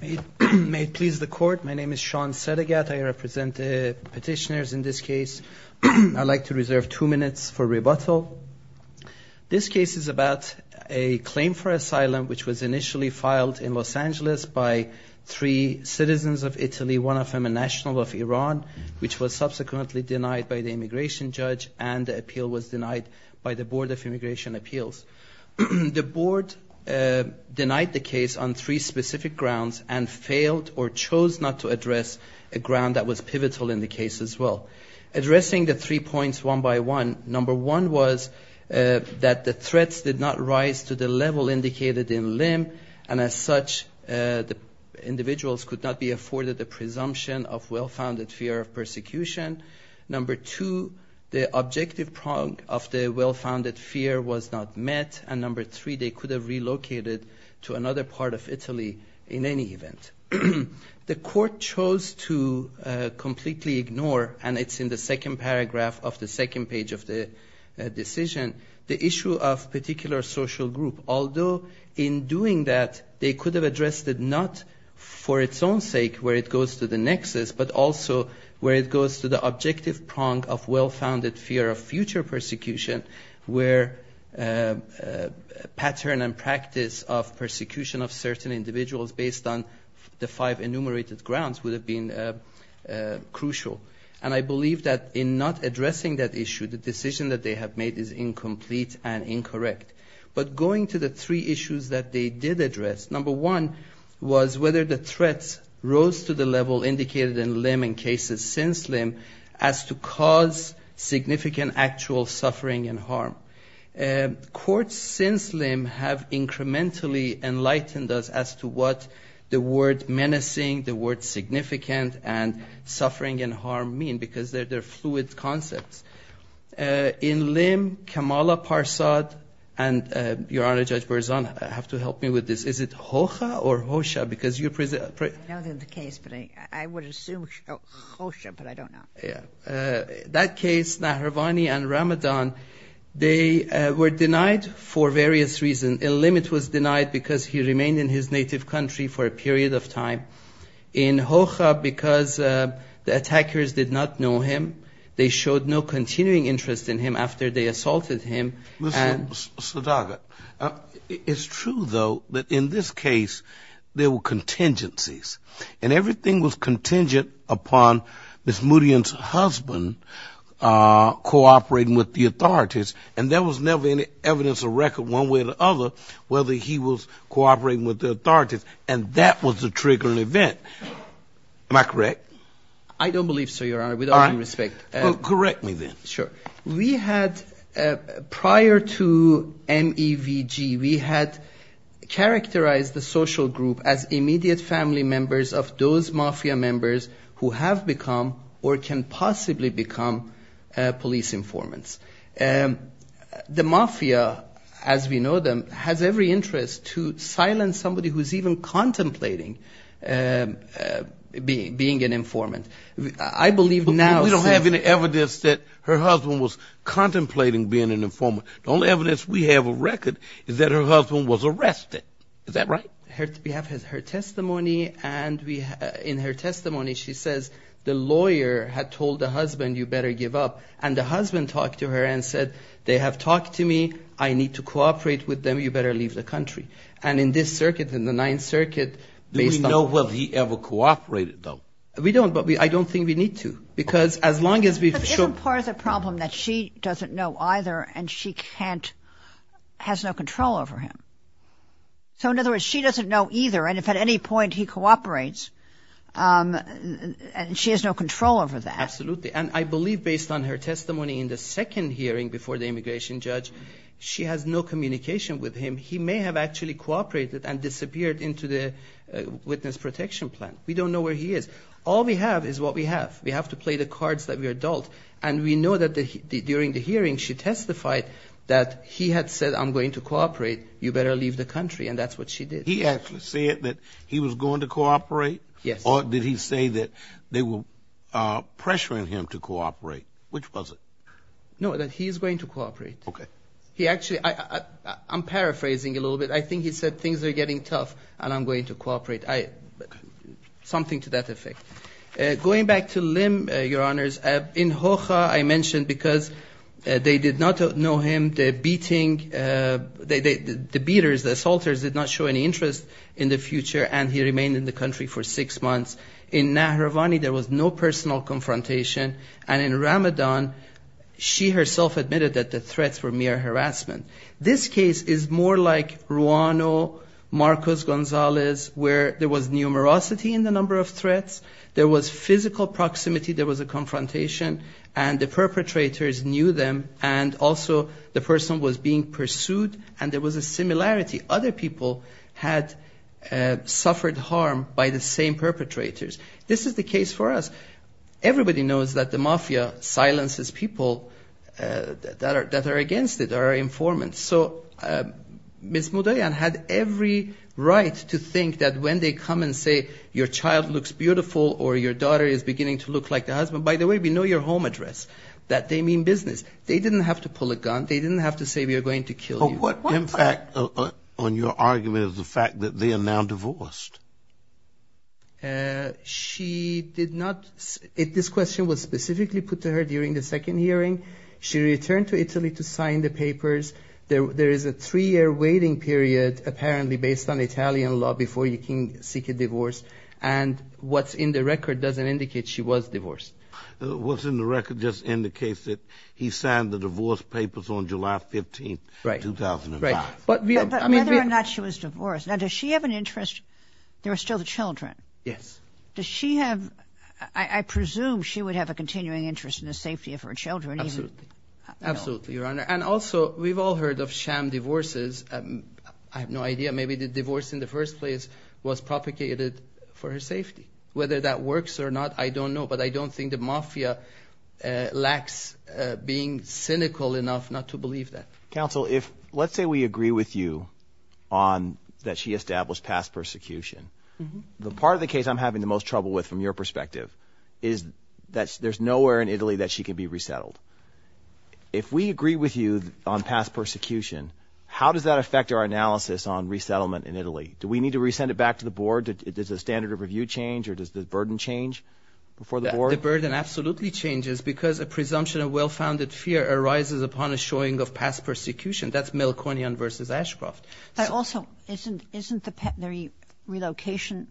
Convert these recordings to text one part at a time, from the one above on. May it please the court, my name is Sean Sedegat. I represent the petitioners in this case. I'd like to reserve two minutes for rebuttal. This case is about a claim for asylum which was initially filed in Los Angeles by three citizens of Italy, one of them a national of Iran, which was subsequently denied by the immigration judge and the appeal was denied by the Board of Immigration Appeals. The board denied the case on three specific grounds and failed or chose not to address a ground that was pivotal in the case as well. Addressing the three points one by one, number one was that the threats did not rise to the level indicated in LIM and as such the individuals could not be afforded the presumption of well-founded fear of persecution. Number two, the objective prong of the well-founded fear was not met and number three, they could have relocated to another part of Italy in any event. The court chose to completely ignore, and it's in the second paragraph of the second page of the decision, the issue of particular social group, although in doing that they could have addressed it not for its own sake where it goes to the nexus but also where it goes to the objective prong of well-founded fear of future persecution where pattern and practice of persecution of certain individuals based on the five enumerated grounds would have been crucial. And I believe that in not addressing that issue, the decision that they have made is incomplete and incorrect. But going to the three issues that they did address, number one was whether the threats rose to the level indicated in LIM and cases since LIM as to cause significant actual suffering and harm. Courts since LIM have incrementally enlightened us as to what the word menacing, the word significant, and suffering and harm mean because they're fluid concepts. In LIM, Kamala Parsad and, Your Honor, Judge Berzon have to help me with this. Is it Hoxha or Hoxha? I know the case, but I would assume Hoxha, but I don't know. That case, Nahravani and Ramadan, they were denied for various reasons. In LIM it was denied because he remained in his native country for a period of time. In Hoxha, because the attackers did not know him, they showed no continuing interest in him after they assaulted him. Mr. Sadagat, it's true, though, that in this case there were contingencies. And everything was contingent upon Ms. Murian's husband cooperating with the authorities, and there was never any evidence or record one way or the other whether he was cooperating with the authorities. And that was the triggering event. Am I correct? I don't believe so, Your Honor, with all due respect. Correct me then. Sure. We had prior to MEVG, we had characterized the social group as immediate family members of those mafia members who have become or can possibly become police informants. The mafia, as we know them, has every interest to silence somebody who's even contemplating being an informant. I believe now... We don't have any evidence that her husband was contemplating being an informant. The only evidence we have of record is that her husband was arrested. Is that right? We have her testimony, and in her testimony she says the lawyer had told the husband, you better give up. And the husband talked to her and said, they have talked to me, I need to cooperate with them, you better leave the country. And in this circuit, in the Ninth Circuit, based on... Do we know if he ever cooperated, though? We don't, but I don't think we need to. But isn't part of the problem that she doesn't know either and she has no control over him? So in other words, she doesn't know either, and if at any point he cooperates, she has no control over that. Absolutely. And I believe based on her testimony in the second hearing before the immigration judge, she has no communication with him. He may have actually cooperated and disappeared into the witness protection plan. We don't know where he is. All we have is what we have. We have to play the cards that we are adults, and we know that during the hearing she testified that he had said, I'm going to cooperate, you better leave the country, and that's what she did. He actually said that he was going to cooperate? Yes. Or did he say that they were pressuring him to cooperate? Which was it? No, that he is going to cooperate. Okay. He actually, I'm paraphrasing a little bit. I think he said things are getting tough and I'm going to cooperate. Something to that effect. Going back to Lim, Your Honors, in Hoha I mentioned because they did not know him, the beating, the beaters, the assaulters did not show any interest in the future, and he remained in the country for six months. In Nahravani there was no personal confrontation. And in Ramadan she herself admitted that the threats were mere harassment. This case is more like Ruano, Marcos Gonzalez, where there was numerosity in the number of threats, there was physical proximity, there was a confrontation, and the perpetrators knew them, and also the person was being pursued, and there was a similarity. Other people had suffered harm by the same perpetrators. This is the case for us. Everybody knows that the mafia silences people that are against it, that are informants. So Ms. Mudayan had every right to think that when they come and say your child looks beautiful or your daughter is beginning to look like the husband, by the way, we know your home address, that they mean business. They didn't have to pull a gun, they didn't have to say we are going to kill you. But what impact on your argument is the fact that they are now divorced? She did not, this question was specifically put to her during the second hearing. She returned to Italy to sign the papers. There is a three-year waiting period apparently based on Italian law before you can seek a divorce, and what's in the record doesn't indicate she was divorced. What's in the record just indicates that he signed the divorce papers on July 15, 2005. But whether or not she was divorced, now does she have an interest, there are still the children. Yes. Does she have, I presume she would have a continuing interest in the safety of her children. Absolutely, Your Honor, and also we've all heard of sham divorces. I have no idea, maybe the divorce in the first place was propagated for her safety. Whether that works or not, I don't know, but I don't think the mafia lacks being cynical enough not to believe that. Counsel, let's say we agree with you on that she established past persecution. The part of the case I'm having the most trouble with from your perspective is that there's nowhere in Italy that she can be resettled. If we agree with you on past persecution, how does that affect our analysis on resettlement in Italy? Do we need to resend it back to the board? Does the standard of review change or does the burden change before the board? The burden absolutely changes because a presumption of well-founded fear arises upon a showing of past persecution. That's Mel Cornian versus Ashcroft. Also, isn't the relocation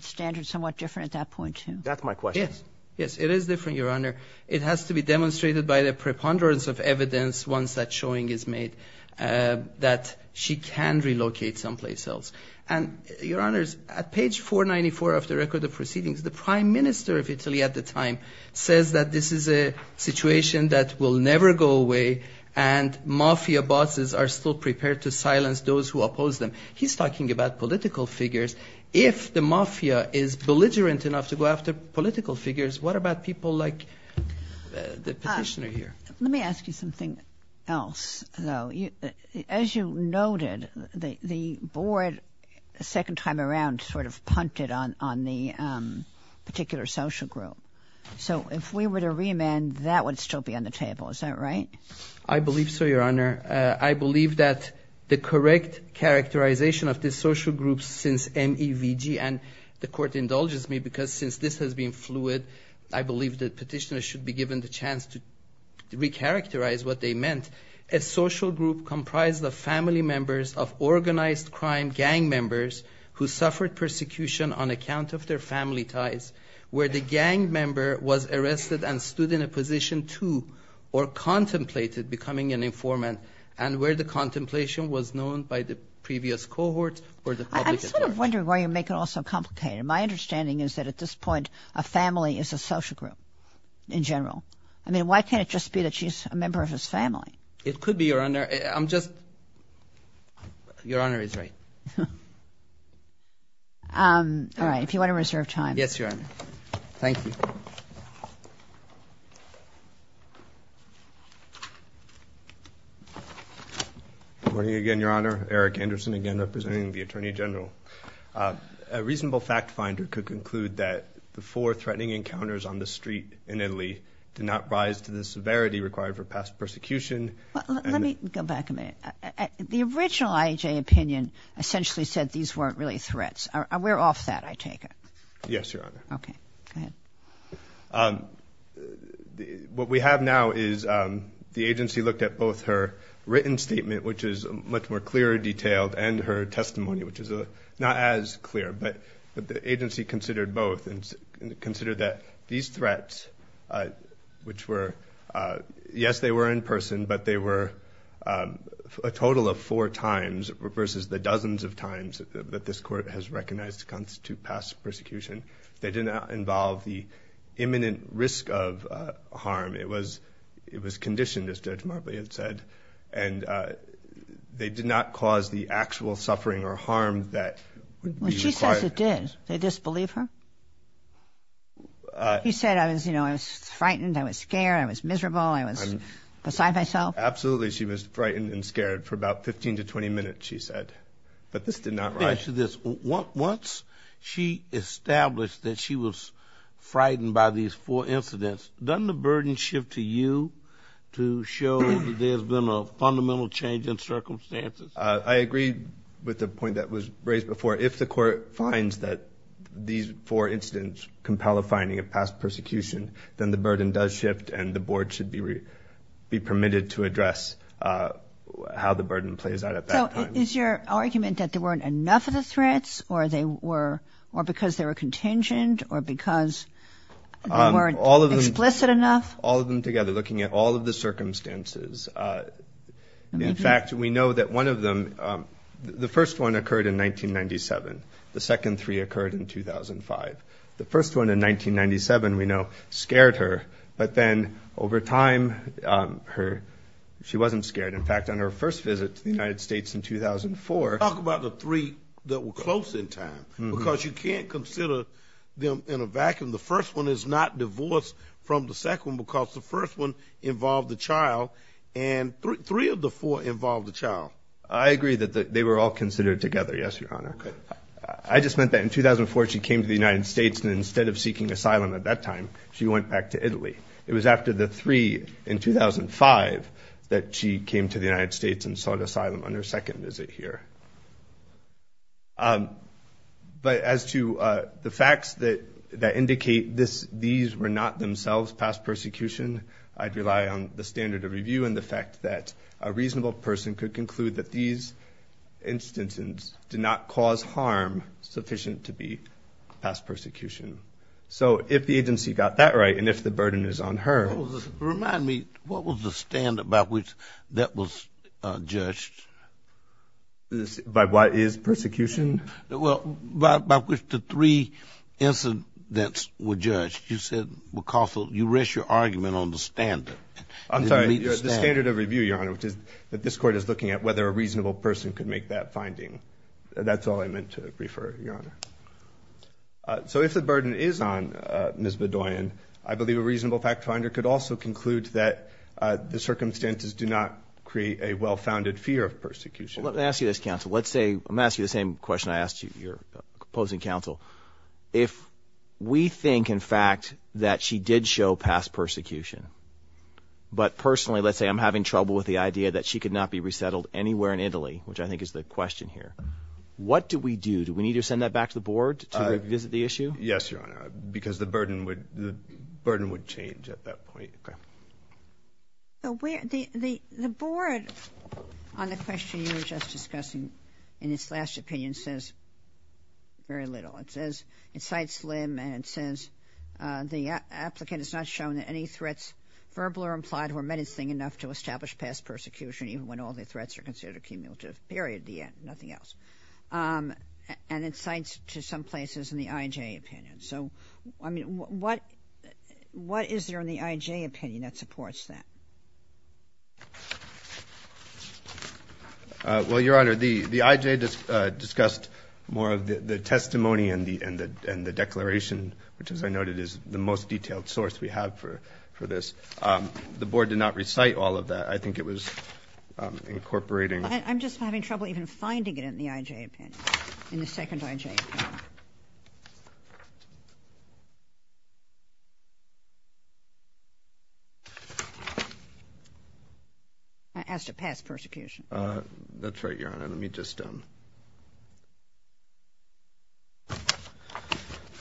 standard somewhat different at that point, too? That's my question. Yes, it is different, Your Honor. It has to be demonstrated by the preponderance of evidence once that showing is made that she can relocate someplace else. And, Your Honors, at page 494 of the record of proceedings, the prime minister of Italy at the time says that this is a situation that will never go away and mafia bosses are still prepared to silence those who oppose them. He's talking about political figures. What about people like the petitioner here? Let me ask you something else, though. As you noted, the board a second time around sort of punted on the particular social group. So if we were to remand, that would still be on the table. Is that right? I believe so, Your Honor. I believe that the correct characterization of this social group since MEVG, and the court indulges me because since this has been fluid, I believe the petitioner should be given the chance to recharacterize what they meant. A social group comprised of family members of organized crime gang members who suffered persecution on account of their family ties, where the gang member was arrested and stood in a position to or contemplated becoming an informant. And where the contemplation was known by the previous cohort or the public. I'm sort of wondering why you make it all so complicated. My understanding is that at this point, a family is a social group in general. I mean, why can't it just be that she's a member of his family? It could be, Your Honor. I'm just Your Honor is right. All right. If you want to reserve time. Yes, Your Honor. Thank you. Good morning again, Your Honor. Eric Anderson again, representing the Attorney General. A reasonable fact finder could conclude that the four threatening encounters on the street in Italy did not rise to the severity required for past persecution. Let me go back a minute. The original IJ opinion essentially said these weren't really threats. We're off that. I take it. Yes, Your Honor. What we have now is the agency looked at both her written statement, which is much more clear, detailed and her testimony, which is not as clear. But the agency considered both and considered that these threats, which were yes, they were in person, but they were a total of four times versus the dozens of times that this court has recognized to constitute past persecution. They did not involve the imminent risk of harm. It was it was conditioned, as Judge Marbley had said. And they did not cause the actual suffering or harm that she says it did. They disbelieve her. You said I was, you know, I was frightened. I was scared. I was miserable. I was beside myself. Absolutely. She was frightened and scared for about 15 to 20 minutes, she said. But this did not rise to this. Once she established that she was frightened by these four incidents, doesn't the burden shift to you to show that there's been a fundamental change in circumstances? I agree with the point that was raised before. If the court finds that these four incidents compel a finding of past persecution, then the burden does shift and the board should be permitted to address how the burden plays out at that time. So is your argument that there weren't enough of the threats or they were or because they were contingent or because they weren't explicit enough? All of them together, looking at all of the circumstances. In fact, we know that one of them, the first one occurred in 1997. The second three occurred in 2005. The first one in 1997, we know, scared her. But then over time, her she wasn't scared. In fact, on her first visit to the United States in 2004. Talk about the three that were close in time, because you can't consider them in a vacuum. The first one is not divorced from the second one because the first one involved the child. And three of the four involved the child. I agree that they were all considered together. Yes, Your Honor. I just meant that in 2004, she came to the United States and instead of seeking asylum at that time, she went back to Italy. It was after the three in 2005 that she came to the United States and sought asylum on her second visit here. But as to the facts that indicate these were not themselves past persecution, I'd rely on the standard of review and the fact that a reasonable person could conclude that these instances did not cause harm sufficient to be past persecution. So if the agency got that right and if the burden is on her... Remind me, what was the standard by which that was judged? By what is persecution? Well, by which the three incidents were judged. You said you rest your argument on the standard. I'm sorry, the standard of review, Your Honor, which is that this Court is looking at whether a reasonable person could make that finding. That's all I meant to refer, Your Honor. So if the burden is on Ms. Bedoyan, I believe a reasonable fact finder could also conclude that the circumstances do not create a well-founded fear of persecution. Let me ask you this, counsel. Let's say... I'm going to ask you the same question I asked your opposing counsel. If we think, in fact, that she did show past persecution, but personally, let's say I'm having trouble with the idea that she could not be resettled anywhere in Italy, which I think is the question here, what do we do? Do we need to send that back to the Board to revisit the issue? Yes, Your Honor, because the burden would change at that point. The Board, on the question you were just discussing, in its last opinion, says very little. It says, it cites Lim, and it says the applicant has not shown that any threats, verbal or implied, were menacing enough to establish past persecution, even when all the threats are considered cumulative. Period. The end. Nothing else. And it cites to some places in the IJ opinion. So, I mean, what is there in the IJ opinion that supports that? Well, Your Honor, the IJ discussed more of the testimony and the declaration, which, as I noted, is the most detailed source we have for this. The Board did not recite all of that. I think it was incorporating... I'm just having trouble even finding it in the IJ opinion, in the second IJ opinion. I asked to pass persecution. The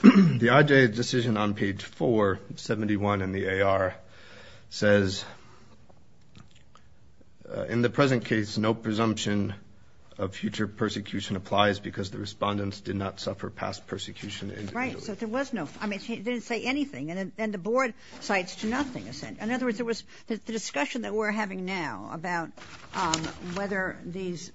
IJ decision on page 471 in the AR says, in the present case, no presumption of future persecution applies because the respondents did not suffer past persecution individually. Right. So there was no... I mean, it didn't say anything. And the Board cites to nothing. In other words, there was the discussion that we're having now about whether these,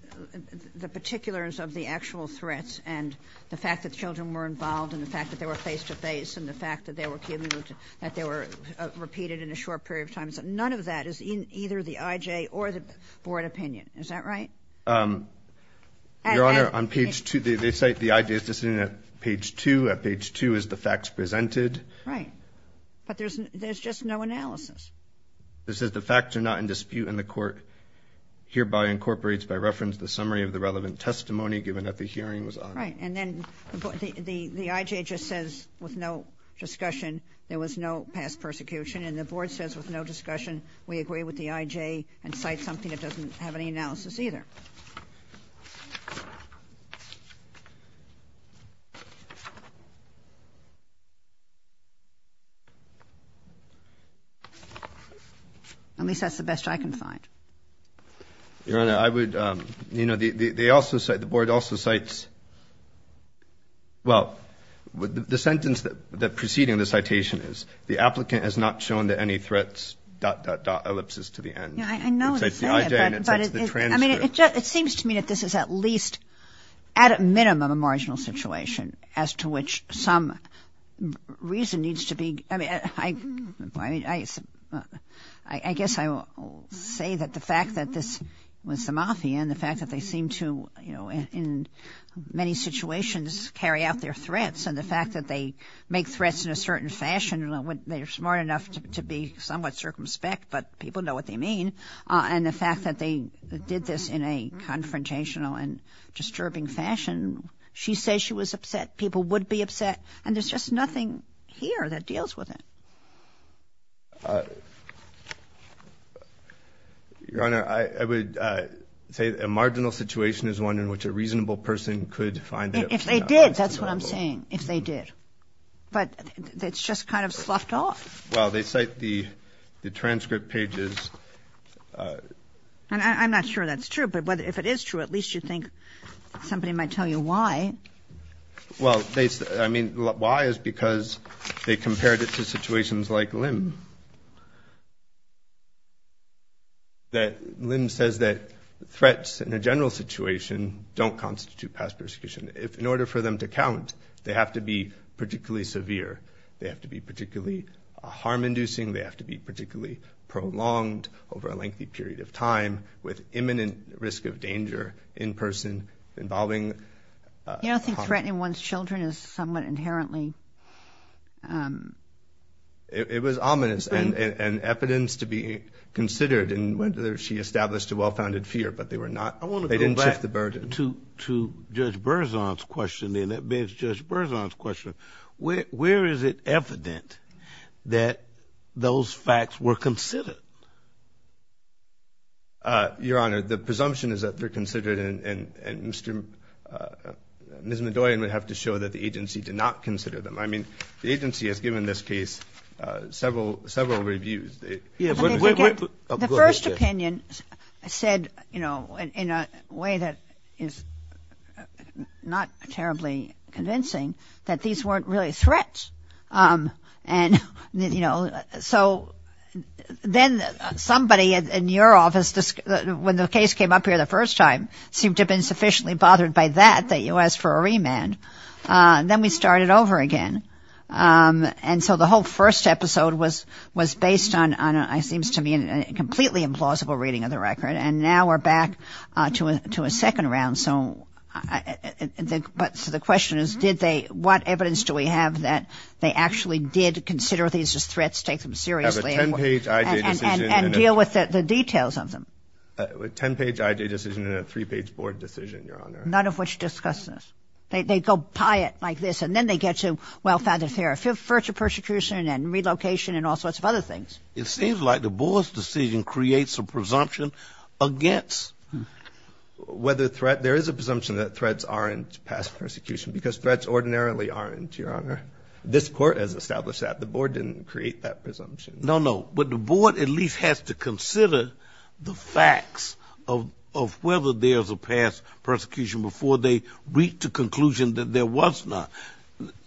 the particulars of the actual threats and the fact that children were involved and the fact that they were face-to-face and the fact that they were killed, that they were repeated in a short period of time. None of that is in either the IJ or the Board opinion. Is that right? Your Honor, on page 2, they cite the IJ's decision at page 2. At page 2 is the facts presented. Right. But there's just no analysis. It says the facts are not in dispute and the Court hereby incorporates by reference the summary of the relevant testimony given that the hearing was on. Right. And then the IJ just says with no discussion there was no past persecution. And the Board says with no discussion we agree with the IJ and cites something that doesn't have any analysis either. At least that's the best I can find. Your Honor, I would, you know, they also cite, the Board also cites, well, the sentence that preceding the citation is, the applicant has not shown that any threats, dot, dot, dot, ellipses to the end. Yeah, I know what you're saying. It cites the IJ and it cites the transcript. I mean, it seems to me that this is at least, at a minimum, a marginal situation as to which some reason needs to be, I mean, I guess I will say that the fact that this was the Mafia and the fact that they seem to, you know, in many situations carry out their threats and the fact that they make threats in a certain fashion, they're smart enough to be somewhat circumspect, but people know what they mean, and the fact that they did this in a confrontational and disturbing fashion, she says she was upset, people would be upset, and there's just nothing here that deals with it. Your Honor, I would say a marginal situation is one in which a reasonable person could find that it was not acceptable. If they did, that's what I'm saying, if they did. But it's just kind of sloughed off. Well, they cite the transcript pages. And I'm not sure that's true, but if it is true, at least you think somebody might tell you why. Well, I mean, why is because they compared it to situations like Lim, that Lim says that threats in a general situation don't constitute past persecution. If in order for them to count, they have to be particularly severe, they have to be particularly harm-inducing, they have to be particularly prolonged over a lengthy period of time with imminent risk of danger in person involving. You know, I think threatening one's children is somewhat inherently. It was ominous, and evidence to be considered, and she established a well-founded fear, but they were not. They didn't shift the burden. I want to go back to Judge Berzon's question, and that begs Judge Berzon's question. Where is it evident that those facts were considered? Your Honor, the presumption is that they're considered, and Ms. Medoyan would have to show that the agency did not consider them. I mean, the agency has given this case several reviews. The first opinion said, you know, in a way that is not terribly convincing, that these weren't really threats. And, you know, so then somebody in your office, when the case came up here the first time, seemed to have been sufficiently bothered by that that you asked for a remand. Then we started over again. And so the whole first episode was based on, it seems to me, a completely implausible reading of the record, and now we're back to a second round. So the question is, did they, what evidence do we have that they actually did consider these as threats, take them seriously, and deal with the details of them? A ten-page IJ decision and a three-page board decision, Your Honor. None of which discuss this. They go pie it like this, and then they get to, well, further persecution and relocation and all sorts of other things. It seems like the board's decision creates a presumption against whether threat, there is a presumption that threats aren't past persecution, because threats ordinarily aren't, Your Honor. This court has established that. The board didn't create that presumption. No, no. But the board at least has to consider the facts of whether there's a past persecution before they reach the conclusion that there was not.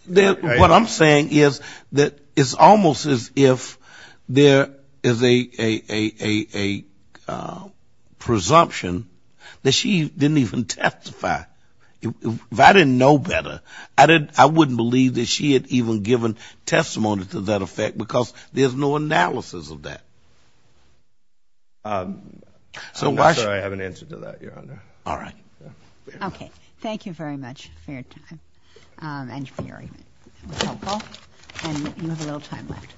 What I'm saying is that it's almost as if there is a presumption that she didn't even testify. If I didn't know better, I wouldn't believe that she had even given testimony to that effect, because there's no analysis of that. I'm not sure I have an answer to that, Your Honor. All right. Okay. Thank you very much for your time and your hearing. It was helpful. And you have a little time left.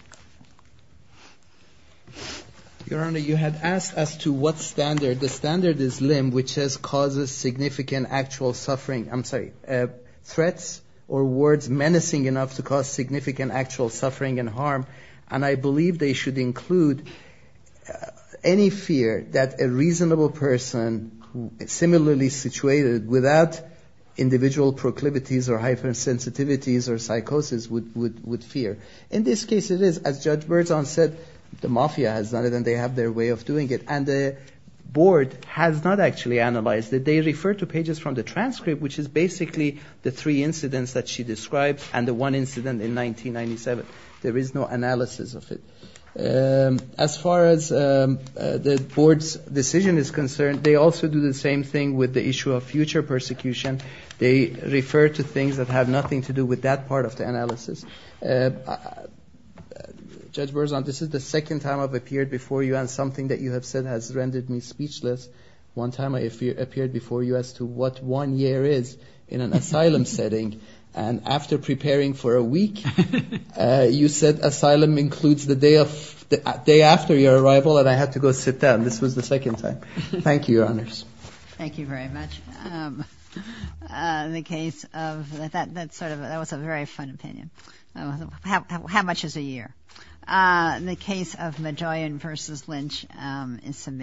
Your Honor, you had asked as to what standard. The standard is limb, which causes significant actual suffering. I'm sorry, threats or words menacing enough to cause significant actual suffering and harm, and I believe they should include any fear that a reasonable person similarly situated without individual proclivities or hypersensitivities or psychosis would fear. In this case, it is. As Judge Berzon said, the mafia has done it and they have their way of doing it. And the Board has not actually analyzed it. They refer to pages from the transcript, which is basically the three incidents that she described and the one incident in 1997. There is no analysis of it. As far as the Board's decision is concerned, they also do the same thing with the issue of future persecution. They refer to things that have nothing to do with that part of the analysis. Judge Berzon, this is the second time I've appeared before you, and something that you have said has rendered me speechless. One time I appeared before you as to what one year is in an asylum setting, and after preparing for a week, you said asylum includes the day after your arrival, and I had to go sit down. This was the second time. Thank you, Your Honors. Thank you very much. That was a very fun opinion. How much is a year?